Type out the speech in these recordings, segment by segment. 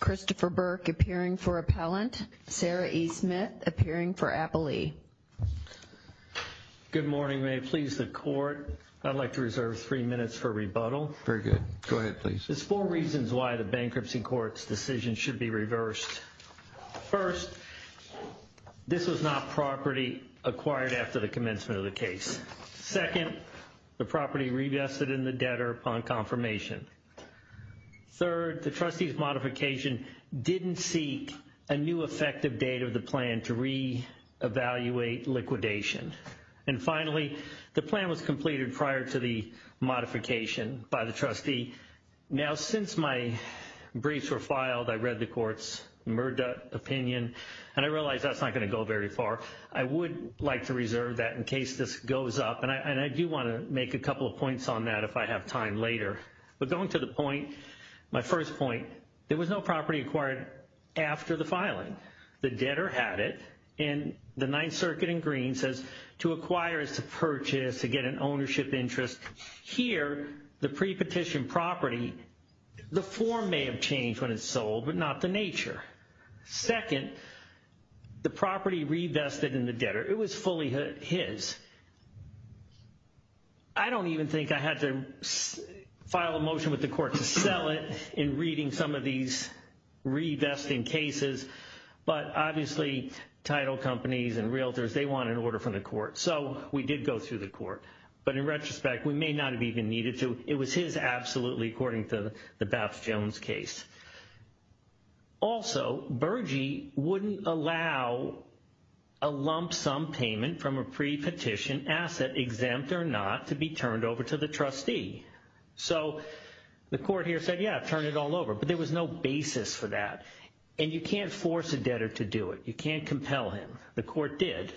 Christopher Burke appearing for appellant. Sarah E. Smith appearing for appellee. Good morning. May it please the court, I'd like to reserve three minutes for rebuttal. Very good. Go ahead, please. There's four reasons why the bankruptcy court's decision should be reversed. First, this was not property acquired after the commencement of the case. Second, the property revested in the debtor upon confirmation. Third, the trustee's modification didn't seek a new effective date of the plan to re-evaluate liquidation. And finally, the plan was completed prior to the modification by the trustee. Now, since my briefs were filed, I read the court's murder opinion, and I realized that's not going to go very far. I would like to reserve that in case this goes up. And I do want to make a couple of points on that if I have time later. But going to the point, my first point, there was no property acquired after the filing. The debtor had it, and the Ninth Circuit in green says to acquire is to purchase, to get an ownership interest. Here, the pre-petition property, the form may have changed when it's sold, but not the nature. Second, the property revested in the debtor, it was fully his. I don't even think I had to file a motion with the court to sell it in reading some of these revesting cases. But obviously, title companies and realtors, they want an order from the court. So we did go through the court. But in retrospect, we may not have even needed to. It was his absolutely, according to the Baps-Jones case. Also, Bergey wouldn't allow a lump sum payment from a pre-petition asset, exempt or not, to be turned over to the trustee. So the court here said, yeah, turn it all over. But there was no basis for that. And you can't force a debtor to do it. You can't compel him. The court did.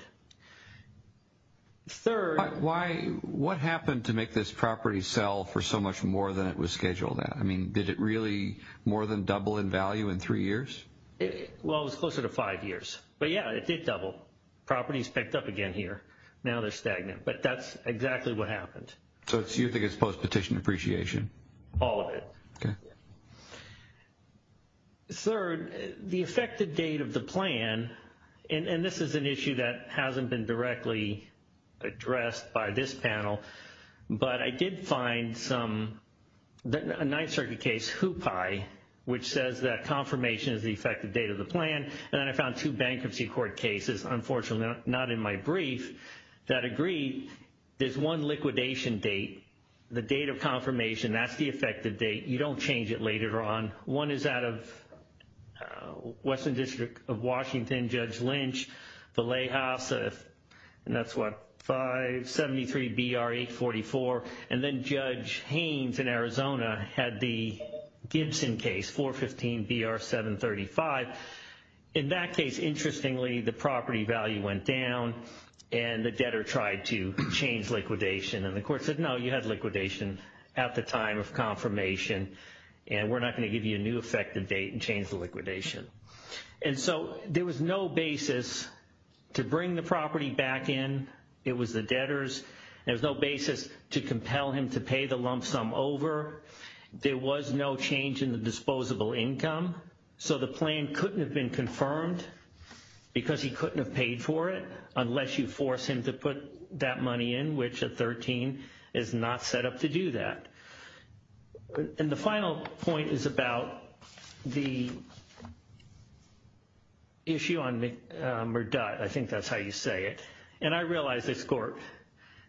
Third. What happened to make this property sell for so much more than it was scheduled at? I mean, did it really more than double in value in three years? Well, it was closer to five years. But yeah, it did double. Properties picked up again here. Now they're stagnant. But that's exactly what happened. So you think it's post-petition appreciation? All of it. Third, the effective date of the plan, and this is an issue that hasn't been directly addressed by this panel. But I did find a Ninth Circuit case, Hoopi, which says that confirmation is the effective date of the plan. And then I found two bankruptcy court cases, unfortunately not in my brief, that agree there's one liquidation date, the date of confirmation. That's the effective date. You don't change it later on. One is out of Western District of 573 BR 844. And then Judge Haynes in Arizona had the Gibson case, 415 BR 735. In that case, interestingly, the property value went down and the debtor tried to change liquidation. And the court said, no, you had liquidation at the time of confirmation. And we're not going to give you a new effective date and change the liquidation. And so there was no back in. It was the debtors. There was no basis to compel him to pay the lump sum over. There was no change in the disposable income. So the plan couldn't have been confirmed because he couldn't have paid for it unless you force him to put that money in, which at 13 is not set up to it. And I realized this court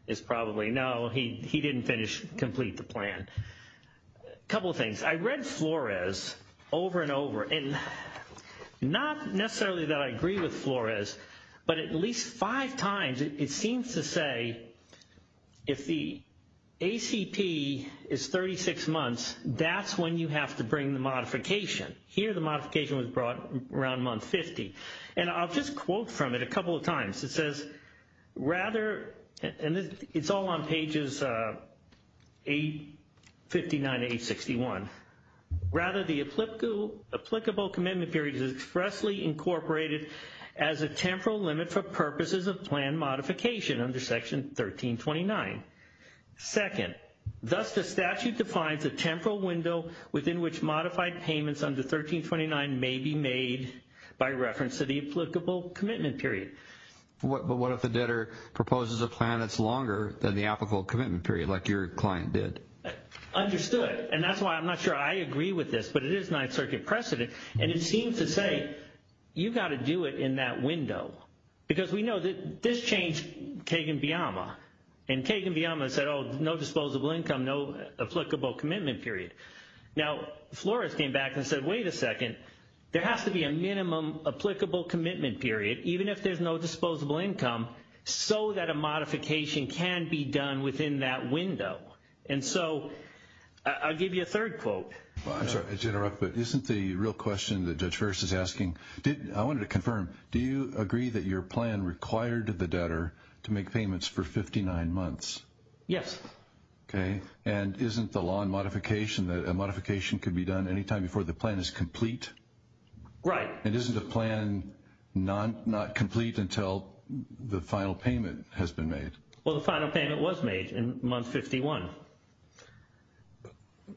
is probably, no, he didn't finish, complete the plan. A couple of things. I read Flores over and over, and not necessarily that I agree with Flores, but at least five times it seems to say if the ACP is 36 months, that's when you have to bring the modification. Here the modification was brought around month 50. And I'll just quote from it a couple of times. It says, rather, and it's all on pages 859 to 861, rather the applicable commitment period is expressly incorporated as a temporal limit for purposes of plan modification under section 1329. Second, thus the statute defines a temporal window within which modified payments under 1329 may be made by reference to the applicable commitment period. But what if the debtor proposes a plan that's longer than the applicable commitment period, like your client did? Understood. And that's why I'm not sure I agree with this, but it is Ninth Circuit precedent. And it seems to say you got to do it in that window, because we know that this changed Kagan-Biama. And Kagan-Biama said, oh, no disposable income, no applicable commitment period. Now Flores came back and said, wait a second, there has to be a minimum applicable commitment period, even if there's no disposable income, so that a modification can be done within that window. And so I'll give you a third quote. I'm sorry to interrupt, but isn't the real question that Judge Ferris is asking, I wanted to confirm, do you agree that your plan required the debtor to make payments for 59 months? Yes. Okay. And isn't the law and modification that a modification could be done anytime before the plan is complete? Right. And isn't the plan not complete until the final payment has been made? Well, the final payment was made in month 51.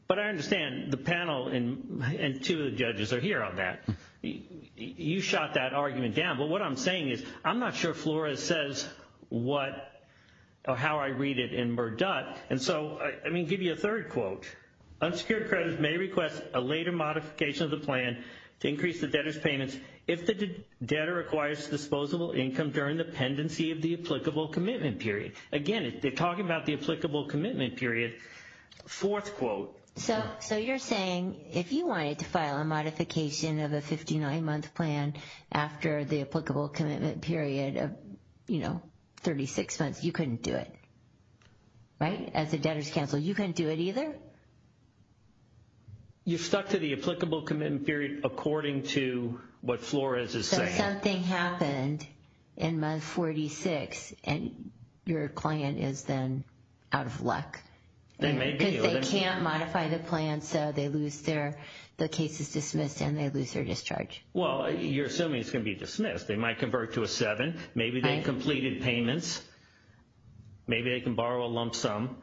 But I understand the panel and two of the judges are here on that. You shot that argument down. But what I'm saying is, I'm not sure Flores says what or how I read it in Murdutt. And so, I mean, give you a third quote. Unsecured credit may request a later modification of the plan to increase the debtor's payments if the debtor acquires disposable income during the pendency of the applicable commitment period. Again, they're talking about the applicable commitment period. Fourth quote. So you're saying if you wanted to file a modification of a 59-month plan after the applicable commitment period of, you know, 36 months, you couldn't do it. Right? As a debtor's counsel, you couldn't do it either? You stuck to the applicable commitment period according to what Flores is saying. So something happened in month 46 and your client is then out of luck. They may be. Because they can't modify the plan, so they lose their, the case is dismissed and they lose their discharge. Well, you're assuming it's going to be dismissed. They might convert to a seven. Maybe they completed payments. Maybe they can borrow a lump sum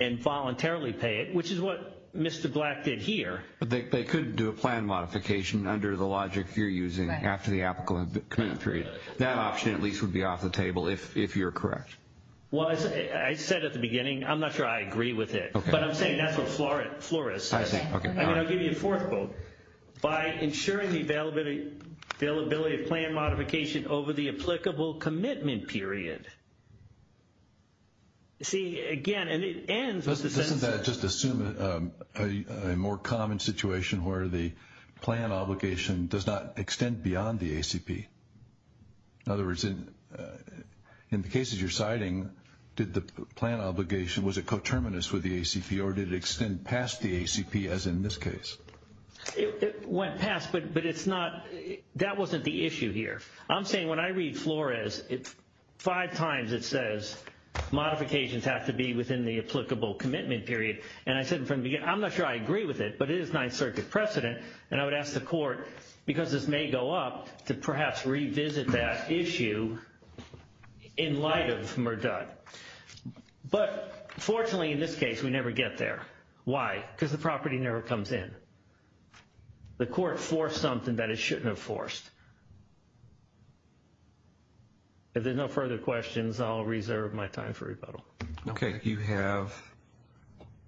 and voluntarily pay it, which is what Mr. Black did here. But they could do a plan modification under the logic you're using after the applicable commitment period. That option at least would be off the table if you're correct. Well, I said at the beginning, I'm not sure I agree with it. But I'm saying that's what Flores says. I'll give you a fourth quote. By ensuring the availability of plan modification over the applicable commitment period. See, again, and it ends. Let's just assume a more common situation where the plan obligation does not extend beyond the ACP. In other words, in the cases you're plan obligation, was it coterminous with the ACP or did it extend past the ACP as in this case? It went past, but it's not, that wasn't the issue here. I'm saying when I read Flores, five times it says modifications have to be within the applicable commitment period. And I said from the beginning, I'm not sure I agree with it, but it is Ninth Circuit precedent. And I would ask the court, because this may go up, to perhaps revisit that issue in light of Murdud. But fortunately, in this case, we never get there. Why? Because the property never comes in. The court forced something that it shouldn't have forced. If there's no further questions, I'll reserve my time for rebuttal. Okay. You have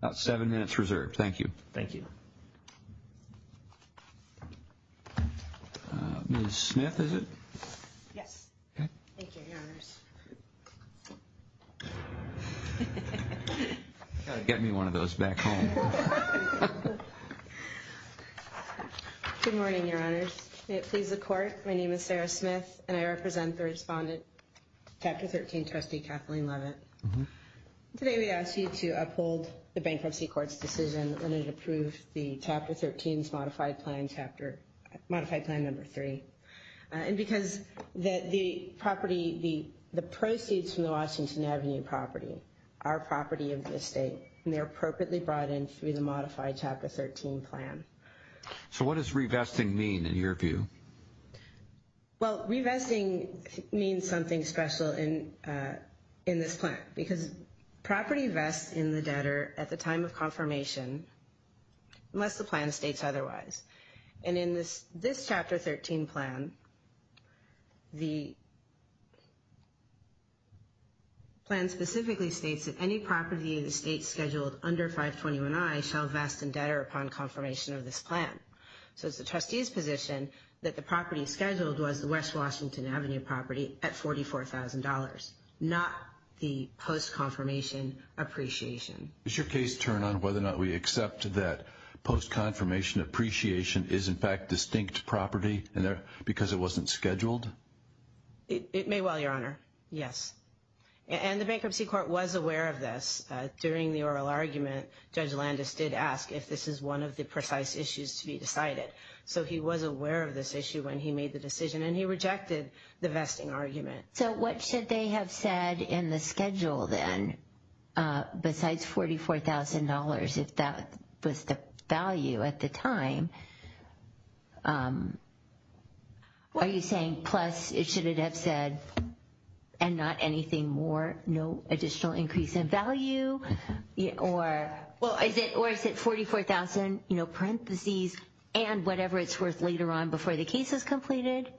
about seven minutes reserved. Thank you. Thank you. Ms. Smith, is it? Yes. Thank you, Your Honors. Got to get me one of those back home. Good morning, Your Honors. May it please the court, my name is Sarah Smith, and I represent the respondent, Chapter 13, Trustee Kathleen Leavitt. Today we ask you to uphold the Bankruptcy Court's decision when it approved the Chapter 13's modified plan number three. And because the property, the proceeds from the Washington Avenue property are property of the state, and they're appropriately brought in through the modified Chapter 13 plan. So what does revesting mean, in your view? Well, revesting means something special in this plan, because property vests in the debtor at the time of confirmation, unless the plan states otherwise. And in this Chapter 13 plan, the plan specifically states that any property of the state scheduled under 521I shall vest in debtor upon confirmation of this plan. So it's the trustee's position that the property scheduled was the West Washington Avenue property at $44,000, not the post-confirmation appreciation. Does your case turn on whether or not we accept that post-confirmation appreciation is in fact distinct property because it wasn't scheduled? It may well, Your Honor. Yes. And the Bankruptcy is one of the precise issues to be decided. So he was aware of this issue when he made the decision, and he rejected the vesting argument. So what should they have said in the schedule then, besides $44,000, if that was the value at the time? Are you saying plus it should have said, and not anything more, no additional increase in value, or is it $44,000, you know, parentheses, and whatever it's worth later on before the case is completed?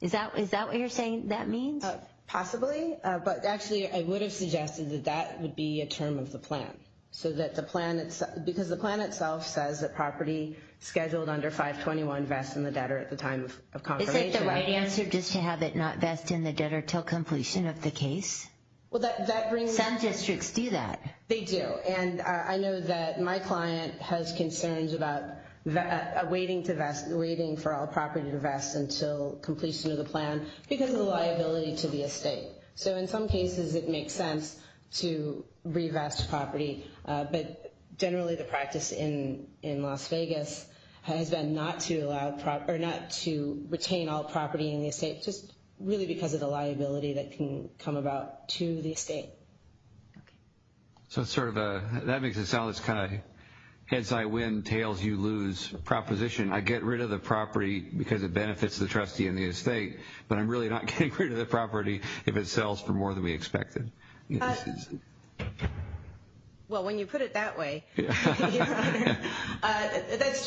Is that what you're saying that means? Possibly. But actually, I would have suggested that that would be a term of the plan, because the plan itself says that property scheduled under 521 vests in the debtor at the time of confirmation. Is that the right answer, just to have it not do that? They do. And I know that my client has concerns about waiting for all property to vest until completion of the plan because of the liability to the estate. So in some cases, it makes sense to revest property. But generally, the practice in Las Vegas has been not to retain all property in the estate, just really because of the liability that can come about to the estate. So it's sort of a, that makes it sound like it's kind of a heads I win, tails you lose proposition. I get rid of the property because it benefits the trustee and the estate, but I'm really not getting rid of the property if it sells for more than we expected. Well, when you put it that way, that's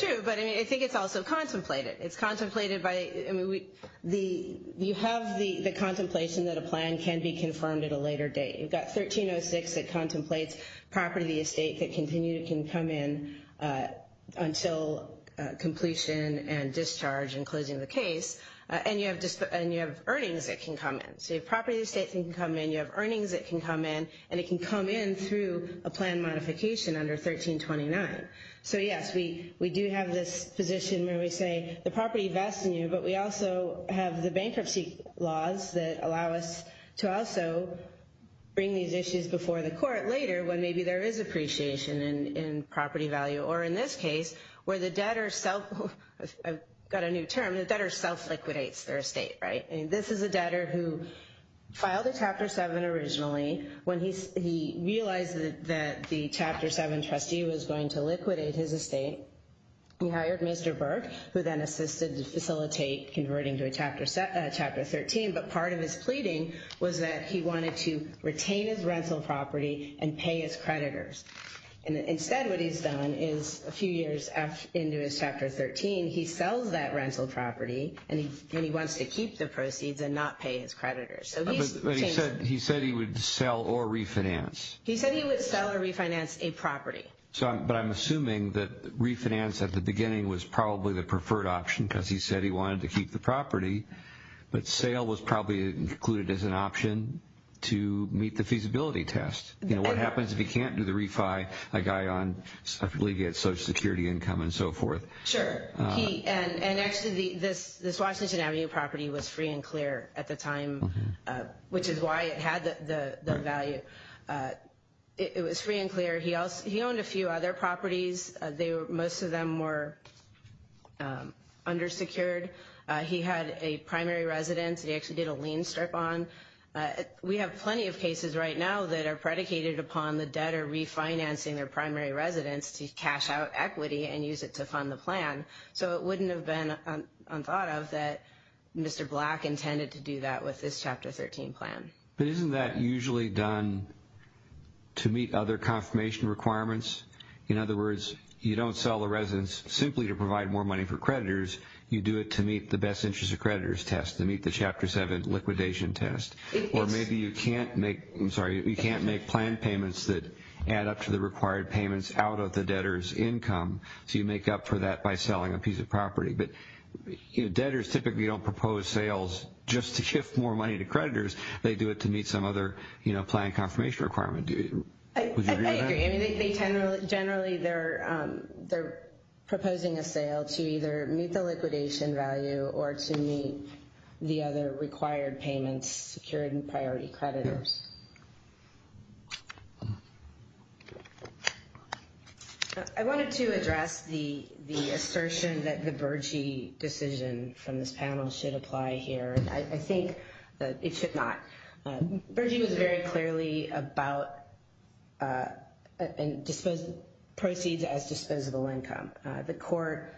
true. But I mean, I think it's also contemplated. It's contemplated by, I mean, you have the contemplation that a plan can be confirmed at a later date. You've got 1306 that contemplates property of the estate that can continue to come in until completion and discharge and closing the case. And you have earnings that can come in. So if property of the estate can come in, you have earnings that can come in, and it can come in through a plan modification under 1329. So yes, we do have this position where we say the property vests in you, but we also have the bankruptcy laws that allow us to also bring these issues before the court later when maybe there is appreciation in property value. Or in this case, where the debtor self, I've got a new term, the debtor self-liquidates their estate, right? And this is a debtor who filed a Chapter 7 originally when he realized that the Chapter 7 trustee was going to liquidate his estate. He hired Mr. Burke, who then assisted to facilitate converting to a Chapter 13. But part of his pleading was that he wanted to retain his rental property and pay his creditors. And instead what he's done is a few years into his Chapter 13, he sells that rental property, and he wants to keep the proceeds and not pay his creditors. But he said he would sell or refinance. He said he would sell or refinance a property. But I'm assuming that refinance at the beginning was probably the preferred option because he said he wanted to keep the property, but sale was probably included as an option to meet the feasibility test. You know, what happens if he can't do the refi, a guy on separately gets Social Security income and so forth. Sure. And actually, this Washington Avenue property was free and clear at the time, which is why it had the value. It was free and clear. He owned a few other properties. Most of them were undersecured. He had a primary residence. He actually did a lien strip on. We have plenty of cases right now that are predicated upon the debtor refinancing their primary residence to cash out equity and use it to fund the plan. So it wouldn't have been unthought of that Mr. Black intended to do that with this Chapter 13 plan. But isn't that usually done to meet other confirmation requirements? In other words, you don't sell the residence simply to provide more money for creditors. You do it to meet the best interest of creditors test, to meet the Chapter 7 liquidation test. Or maybe you can't make, I'm sorry, you can't make plan payments that add up to the required payments out of the property. But debtors typically don't propose sales just to shift more money to creditors. They do it to meet some other plan confirmation requirement. I agree. Generally, they're proposing a sale to either meet the liquidation value or to meet the other required payments secured in priority creditors. I wanted to address the assertion that the Berge decision from this panel should apply here. I think that it should not. Berge was very clearly about proceeds as disposable income. The court,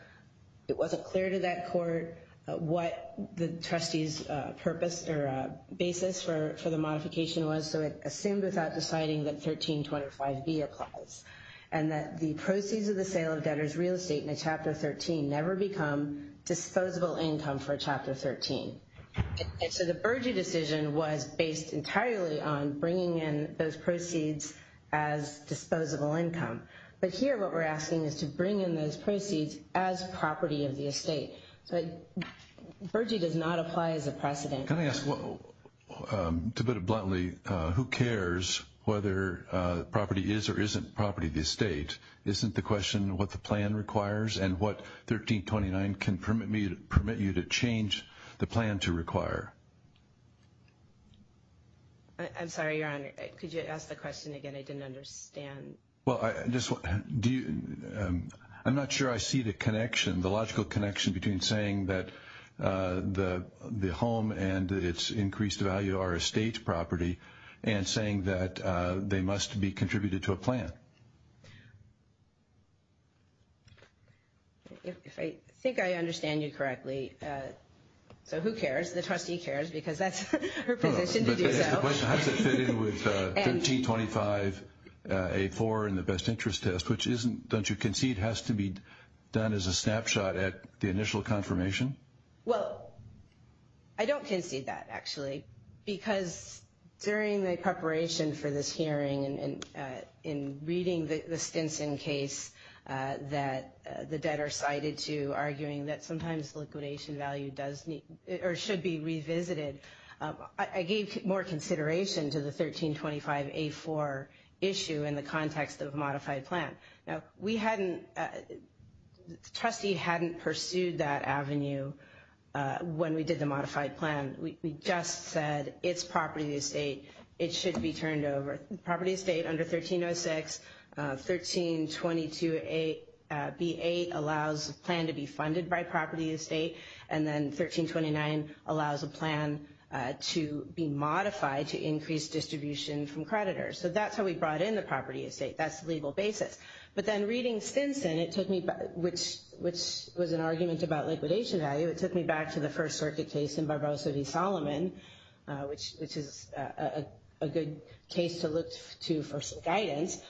it wasn't clear to that court what the trustee's purpose or basis for the modification was. So it assumed without deciding that 1325B applies and that the proceeds of the sale of debtors' real estate in Chapter 13 never become disposable income for Chapter 13. So the Berge decision was based entirely on bringing in those proceeds as disposable income. But here what we're asking is to bring in those proceeds as property of the estate. So Berge does not apply as a precedent. Can I ask, to put it bluntly, who cares whether property is or isn't property of the estate? Isn't the question what the plan requires and what 1329 can permit you to change the plan to require? I'm sorry, Your Honor. Could you ask the question again? I didn't understand. Well, I'm not sure I see the connection, the logical connection between saying that the home and its increased value are estate property and saying that they must be contributed to a plan. If I think I understand you correctly, so who cares? The trustee cares because that's her position to do so. How does it fit in with 1325A4 and the best interest test, which isn't, don't you concede, has to be done as a snapshot at the initial confirmation? Well, I don't concede that, actually, because during the preparation for this hearing and in reading the Stinson case that the debtor cited to arguing that sometimes liquidation value does need or should be revisited, I gave more consideration to the 1325A4 issue in the when we did the modified plan. We just said it's property estate. It should be turned over. Property estate under 1306, 1322B8 allows the plan to be funded by property estate, and then 1329 allows a plan to be modified to increase distribution from creditors. So that's how we brought in the property estate. That's the legal basis. But then reading Stinson, which was an argument about liquidation value, it took me back to the First Circuit case in Barbosa v. Solomon, which is a good case to look to for some guidance.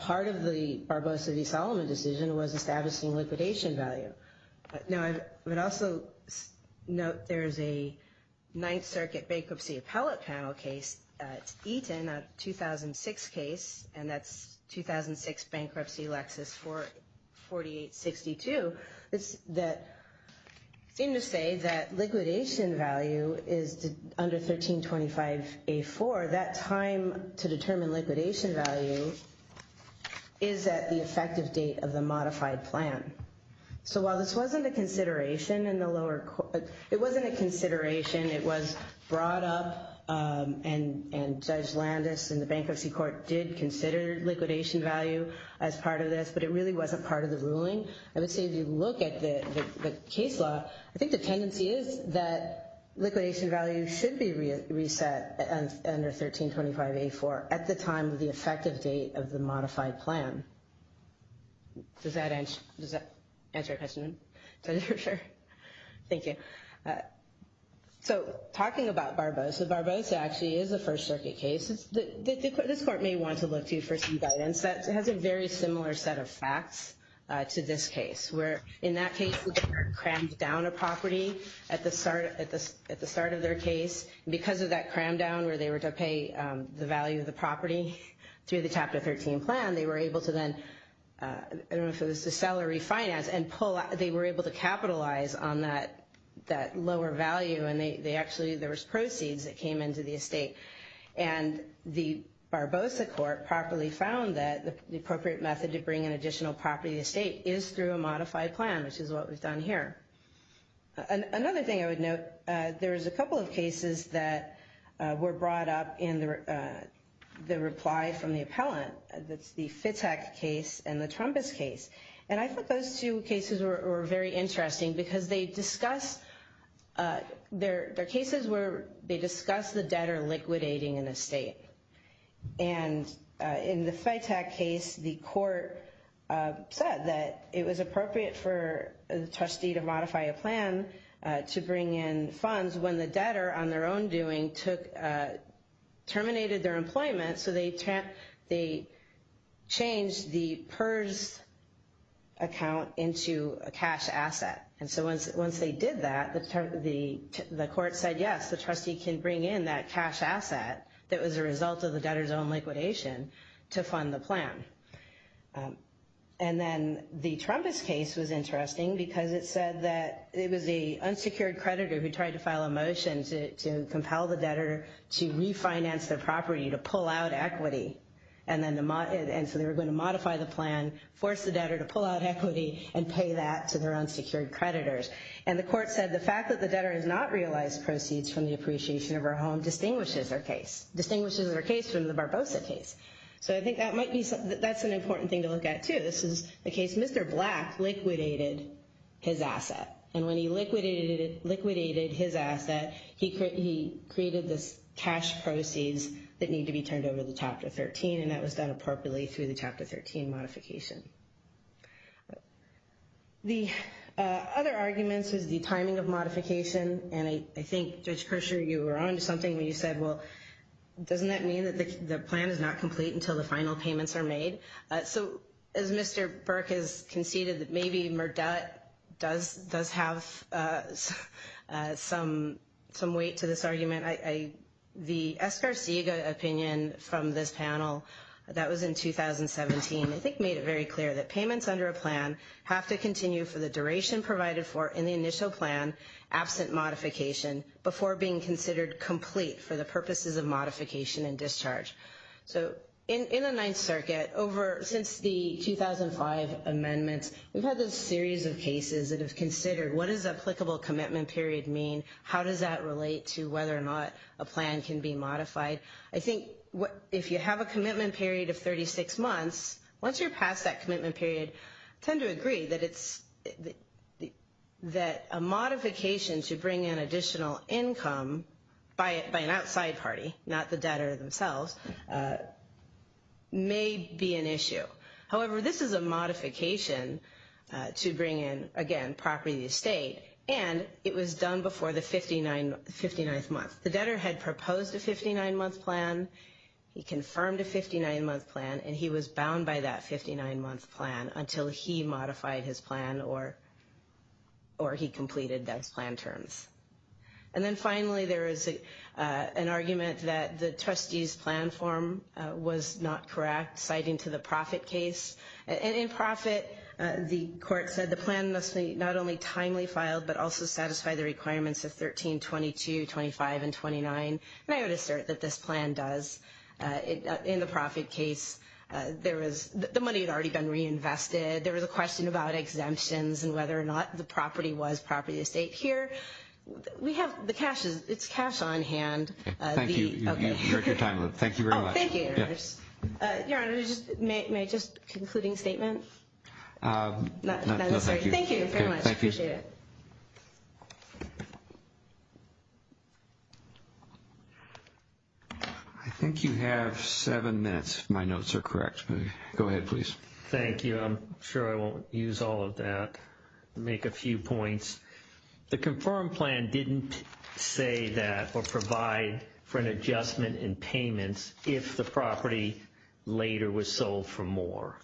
Part of the Barbosa v. Solomon decision was establishing liquidation value. Now, I would also note there's a Ninth Circuit bankruptcy appellate panel case. It's Eaton, a 2006 case, and that's 2006 bankruptcy Lexis 4862, that seem to say that liquidation value is under 1325A4. That time to determine liquidation value is at the effective date of the modified plan. So while this wasn't a consideration in the lower court, it wasn't a consideration. It was brought up and Judge was part of this, but it really wasn't part of the ruling. I would say if you look at the case law, I think the tendency is that liquidation value should be reset under 1325A4 at the time of the effective date of the modified plan. Does that answer your question? Thank you. So talking about Barbosa, Barbosa actually is a First Circuit case. This court may want to look to for some guidance. It has a very similar set of facts to this case, where in that case they were crammed down a property at the start of their case. Because of that cram down where they were to pay the value of the property through the Chapter 13 plan, they were able to then, I don't know if it was to sell or refinance, and they were able to capitalize on that lower value, and actually there was proceeds that came into the estate. And the Barbosa court properly found that the appropriate method to bring an additional property estate is through a modified plan, which is what we've done here. Another thing I would note, there's a couple of cases that were brought up in the reply from the appellant. That's the Fitech case and the Trumpist case. And I think those two cases were very interesting because they discuss, their cases were, they discuss the debtor liquidating an estate. And in the Fitech case, the court said that it was appropriate for the trustee to modify a plan to bring in funds when the debtor on their own doing took, terminated their employment, so they changed the PERS account into a cash asset. And so once they did that, the court said yes, the trustee can bring in that cash asset that was a result of the debtor's own liquidation to fund the plan. And then the Trumpist case was interesting because it said that it was a unsecured creditor who tried to file a motion to compel the debtor to refinance their property to pull out equity. And so they were going to modify the plan, force the debtor to pull out equity, and pay that to their unsecured creditors. And the court said the fact that the debtor has not realized proceeds from the appreciation of her home distinguishes her case, distinguishes her case from the Barbosa case. So I think that might be something, that's an important thing to look at too. This is the case Mr. Black liquidated his asset. And when he liquidated his asset, he created this cash proceeds that need to be turned over the Chapter 13, and that was done appropriately through the Chapter 13 modification. The other arguments is the timing of modification. And I think Judge Kershaw, you were onto something when you said, well, doesn't that mean that the plan is not complete until the final payments are made? So as Mr. Burke has some weight to this argument, the Escarciga opinion from this panel that was in 2017, I think made it very clear that payments under a plan have to continue for the duration provided for in the initial plan, absent modification, before being considered complete for the purposes of modification and discharge. So in the Ninth Circuit, since the 2005 amendments, we've had this series of questions about what does a commitment period mean? How does that relate to whether or not a plan can be modified? I think if you have a commitment period of 36 months, once you're past that commitment period, I tend to agree that it's, that a modification to bring in additional income by an outside party, not the debtor themselves, may be an issue. However, this is a modification to bring in, again, property estate, and it was done before the 59th month. The debtor had proposed a 59-month plan. He confirmed a 59-month plan, and he was bound by that 59-month plan until he modified his plan or he completed those plan terms. And then finally, there is an argument that the trustee's plan form was not correct, citing to the profit case. And in profit, the court said the plan must not only timely file, but also satisfy the requirements of 1322, 25, and 29. And I would assert that this plan does. In the profit case, there was, the money had already been reinvested. There was a question about exemptions and whether or not the property was property estate. Here, we have the cash, it's cash on hand. Thank you. You've got your time, Lou. Thank you very much. Oh, thank you, Your Honor. Your Honor, may I just, concluding statement? Not necessarily. Thank you very much. I appreciate it. I think you have seven minutes, if my notes are correct. Go ahead, please. Thank you. I'm sure I won't use all of that to make a few points. The confirmed plan didn't say that or provide for an adjustment in payments if the property later was sold for more.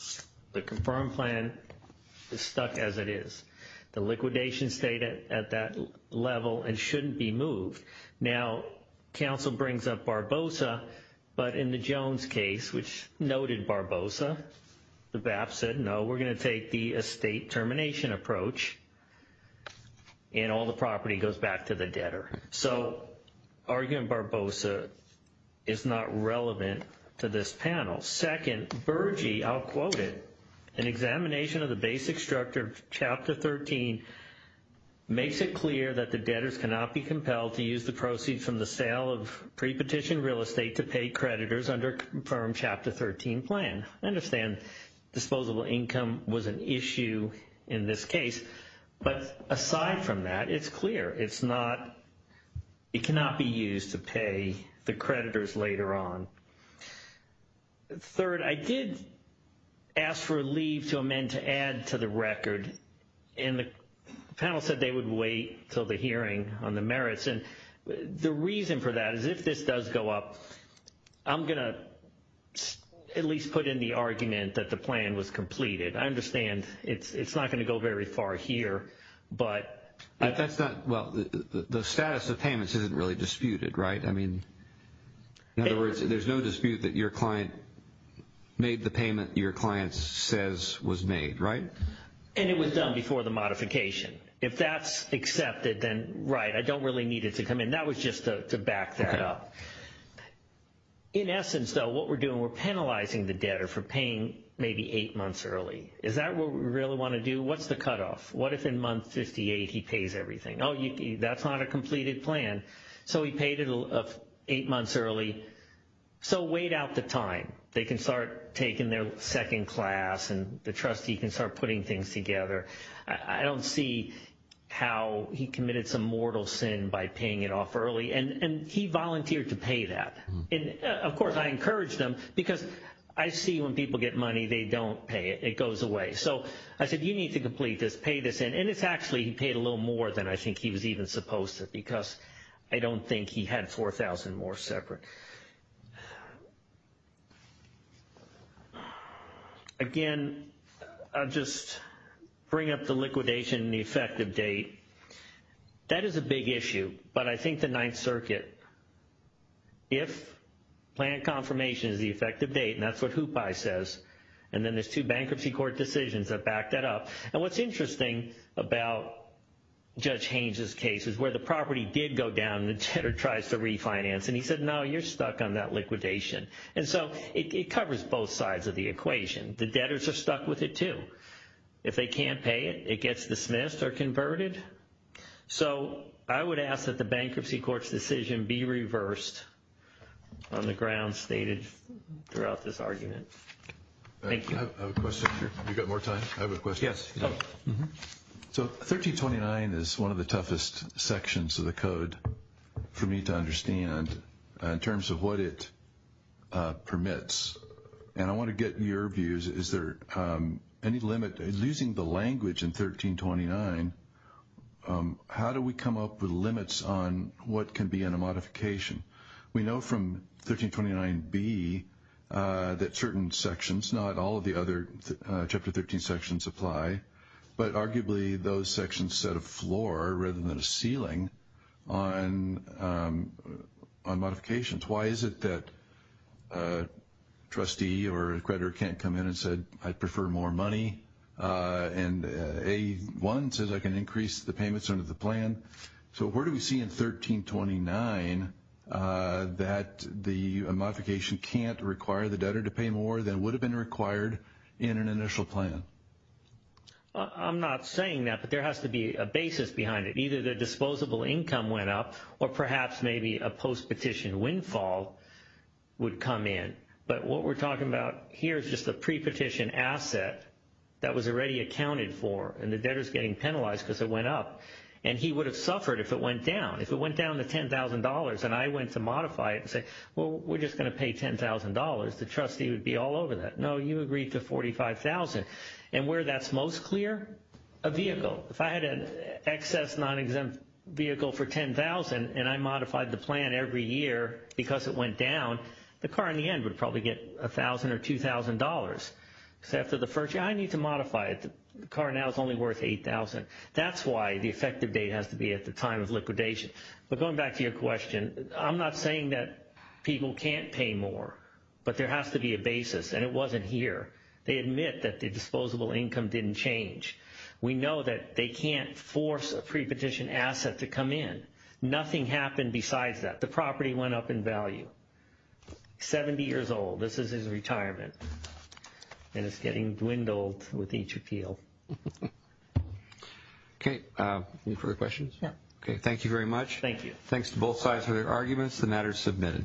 The confirmed plan is stuck as it is. The liquidation stayed at that level and shouldn't be moved. Now, counsel brings up Barbosa, but in the Jones case, which noted Barbosa, the BAP said, no, we're going to take the estate termination approach and all the property goes back to the debtor. So argument Barbosa is not relevant to this panel. Second, Bergey, I'll quote it, an examination of the basic structure of chapter 13 makes it clear that the debtors cannot be compelled to use the proceeds from the sale of pre-petition real estate to pay creditors under confirmed chapter 13 plan. I understand disposable income was an issue in this case, but aside from that, it's clear. It's not, it cannot be used to pay the creditors later on. Third, I did ask for a leave to amend to add to the record and the panel said they would wait until the hearing on the merits. And the reason for that is if this does go up, I'm going to at least put in the argument that the plan was completed. I understand it's not going to go very far here, but that's not, well, the status of payments isn't really disputed, right? I mean, in other words, there's no dispute that your client made the payment your client says was made, right? And it was done before the modification. If that's accepted, then right. I don't really need it to come in. That was just to back that up. In essence, though, what we're doing, we're penalizing the debtor for paying maybe eight months early. Is that what we really want to do? What's the cutoff? What if in month 58, he pays everything? Oh, that's not a completed plan. So he paid it eight months early. So wait out the time. They can start taking their second class and the trustee can start putting things together. I don't see how he committed some mortal sin by paying it off early. And he volunteered to pay that. And of course, I encouraged him because I see when people get money, they don't pay it. It goes away. So I said, you need to complete this, pay this in. And it's actually, he paid a little more than I think he was even supposed to because I don't think he had 4,000 more separate. Again, I'll just bring up the liquidation and the effective date. That is a big issue. But I think the Ninth Circuit, if plan confirmation is the effective date, and that's what HOOPAI says, and then there's two bankruptcy court decisions that back that up. And what's interesting about Judge Haynes' case is where the property did go down and the debtor tries to refinance. And he said, no, you're stuck on that liquidation. And so it covers both sides of the equation. The debtors are stuck with it too. If they can't pay it, it gets dismissed or converted. So I would ask that the bankruptcy court's decision be reversed on the grounds stated throughout this argument. Thank you. I have a question here. You got more time? I have a question. Yes. So 1329 is one of the toughest sections of the code for me to understand in terms of what it permits. And I want to get your views. Is there any limit? Using the language in 1329, how do we come up with limits on what can be in a modification? We know from 1329B that certain sections, not all of the other Chapter 13 sections apply, but arguably those sections set a floor rather than a ceiling on modifications. Why is it that trustee or creditor can't come in and said, I prefer more money? And A1 says I can increase the payments under the plan. So where do we see in 1329 that the modification can't require the debtor to pay more than would have been required in an initial plan? I'm not saying that, but there has to be a basis behind it. Either the disposable income went up or perhaps maybe a post-petition windfall would come in. But what we're talking about here is just a pre-petition asset that was already accounted for and the debtor's getting penalized because it went up. And he would have suffered if it went down. If it went down to $10,000 and I went to modify it and say, well, we're just going to pay $10,000, the trustee would be all over that. No, you agreed to $45,000. And where that's most clear? A vehicle. If I had an excess non-exempt vehicle for $10,000 and I modified the plan every year because it went down, the car in the end would probably get $1,000 or $2,000. So after the first year, I need to modify it. The effective date has to be at the time of liquidation. But going back to your question, I'm not saying that people can't pay more, but there has to be a basis. And it wasn't here. They admit that the disposable income didn't change. We know that they can't force a pre-petition asset to come in. Nothing happened besides that. The property went up in value. 70 years old. This is retirement. And it's getting dwindled with each appeal. Okay. Any further questions? No. Okay. Thank you very much. Thank you. Thanks to both sides for their arguments. The matter is submitted.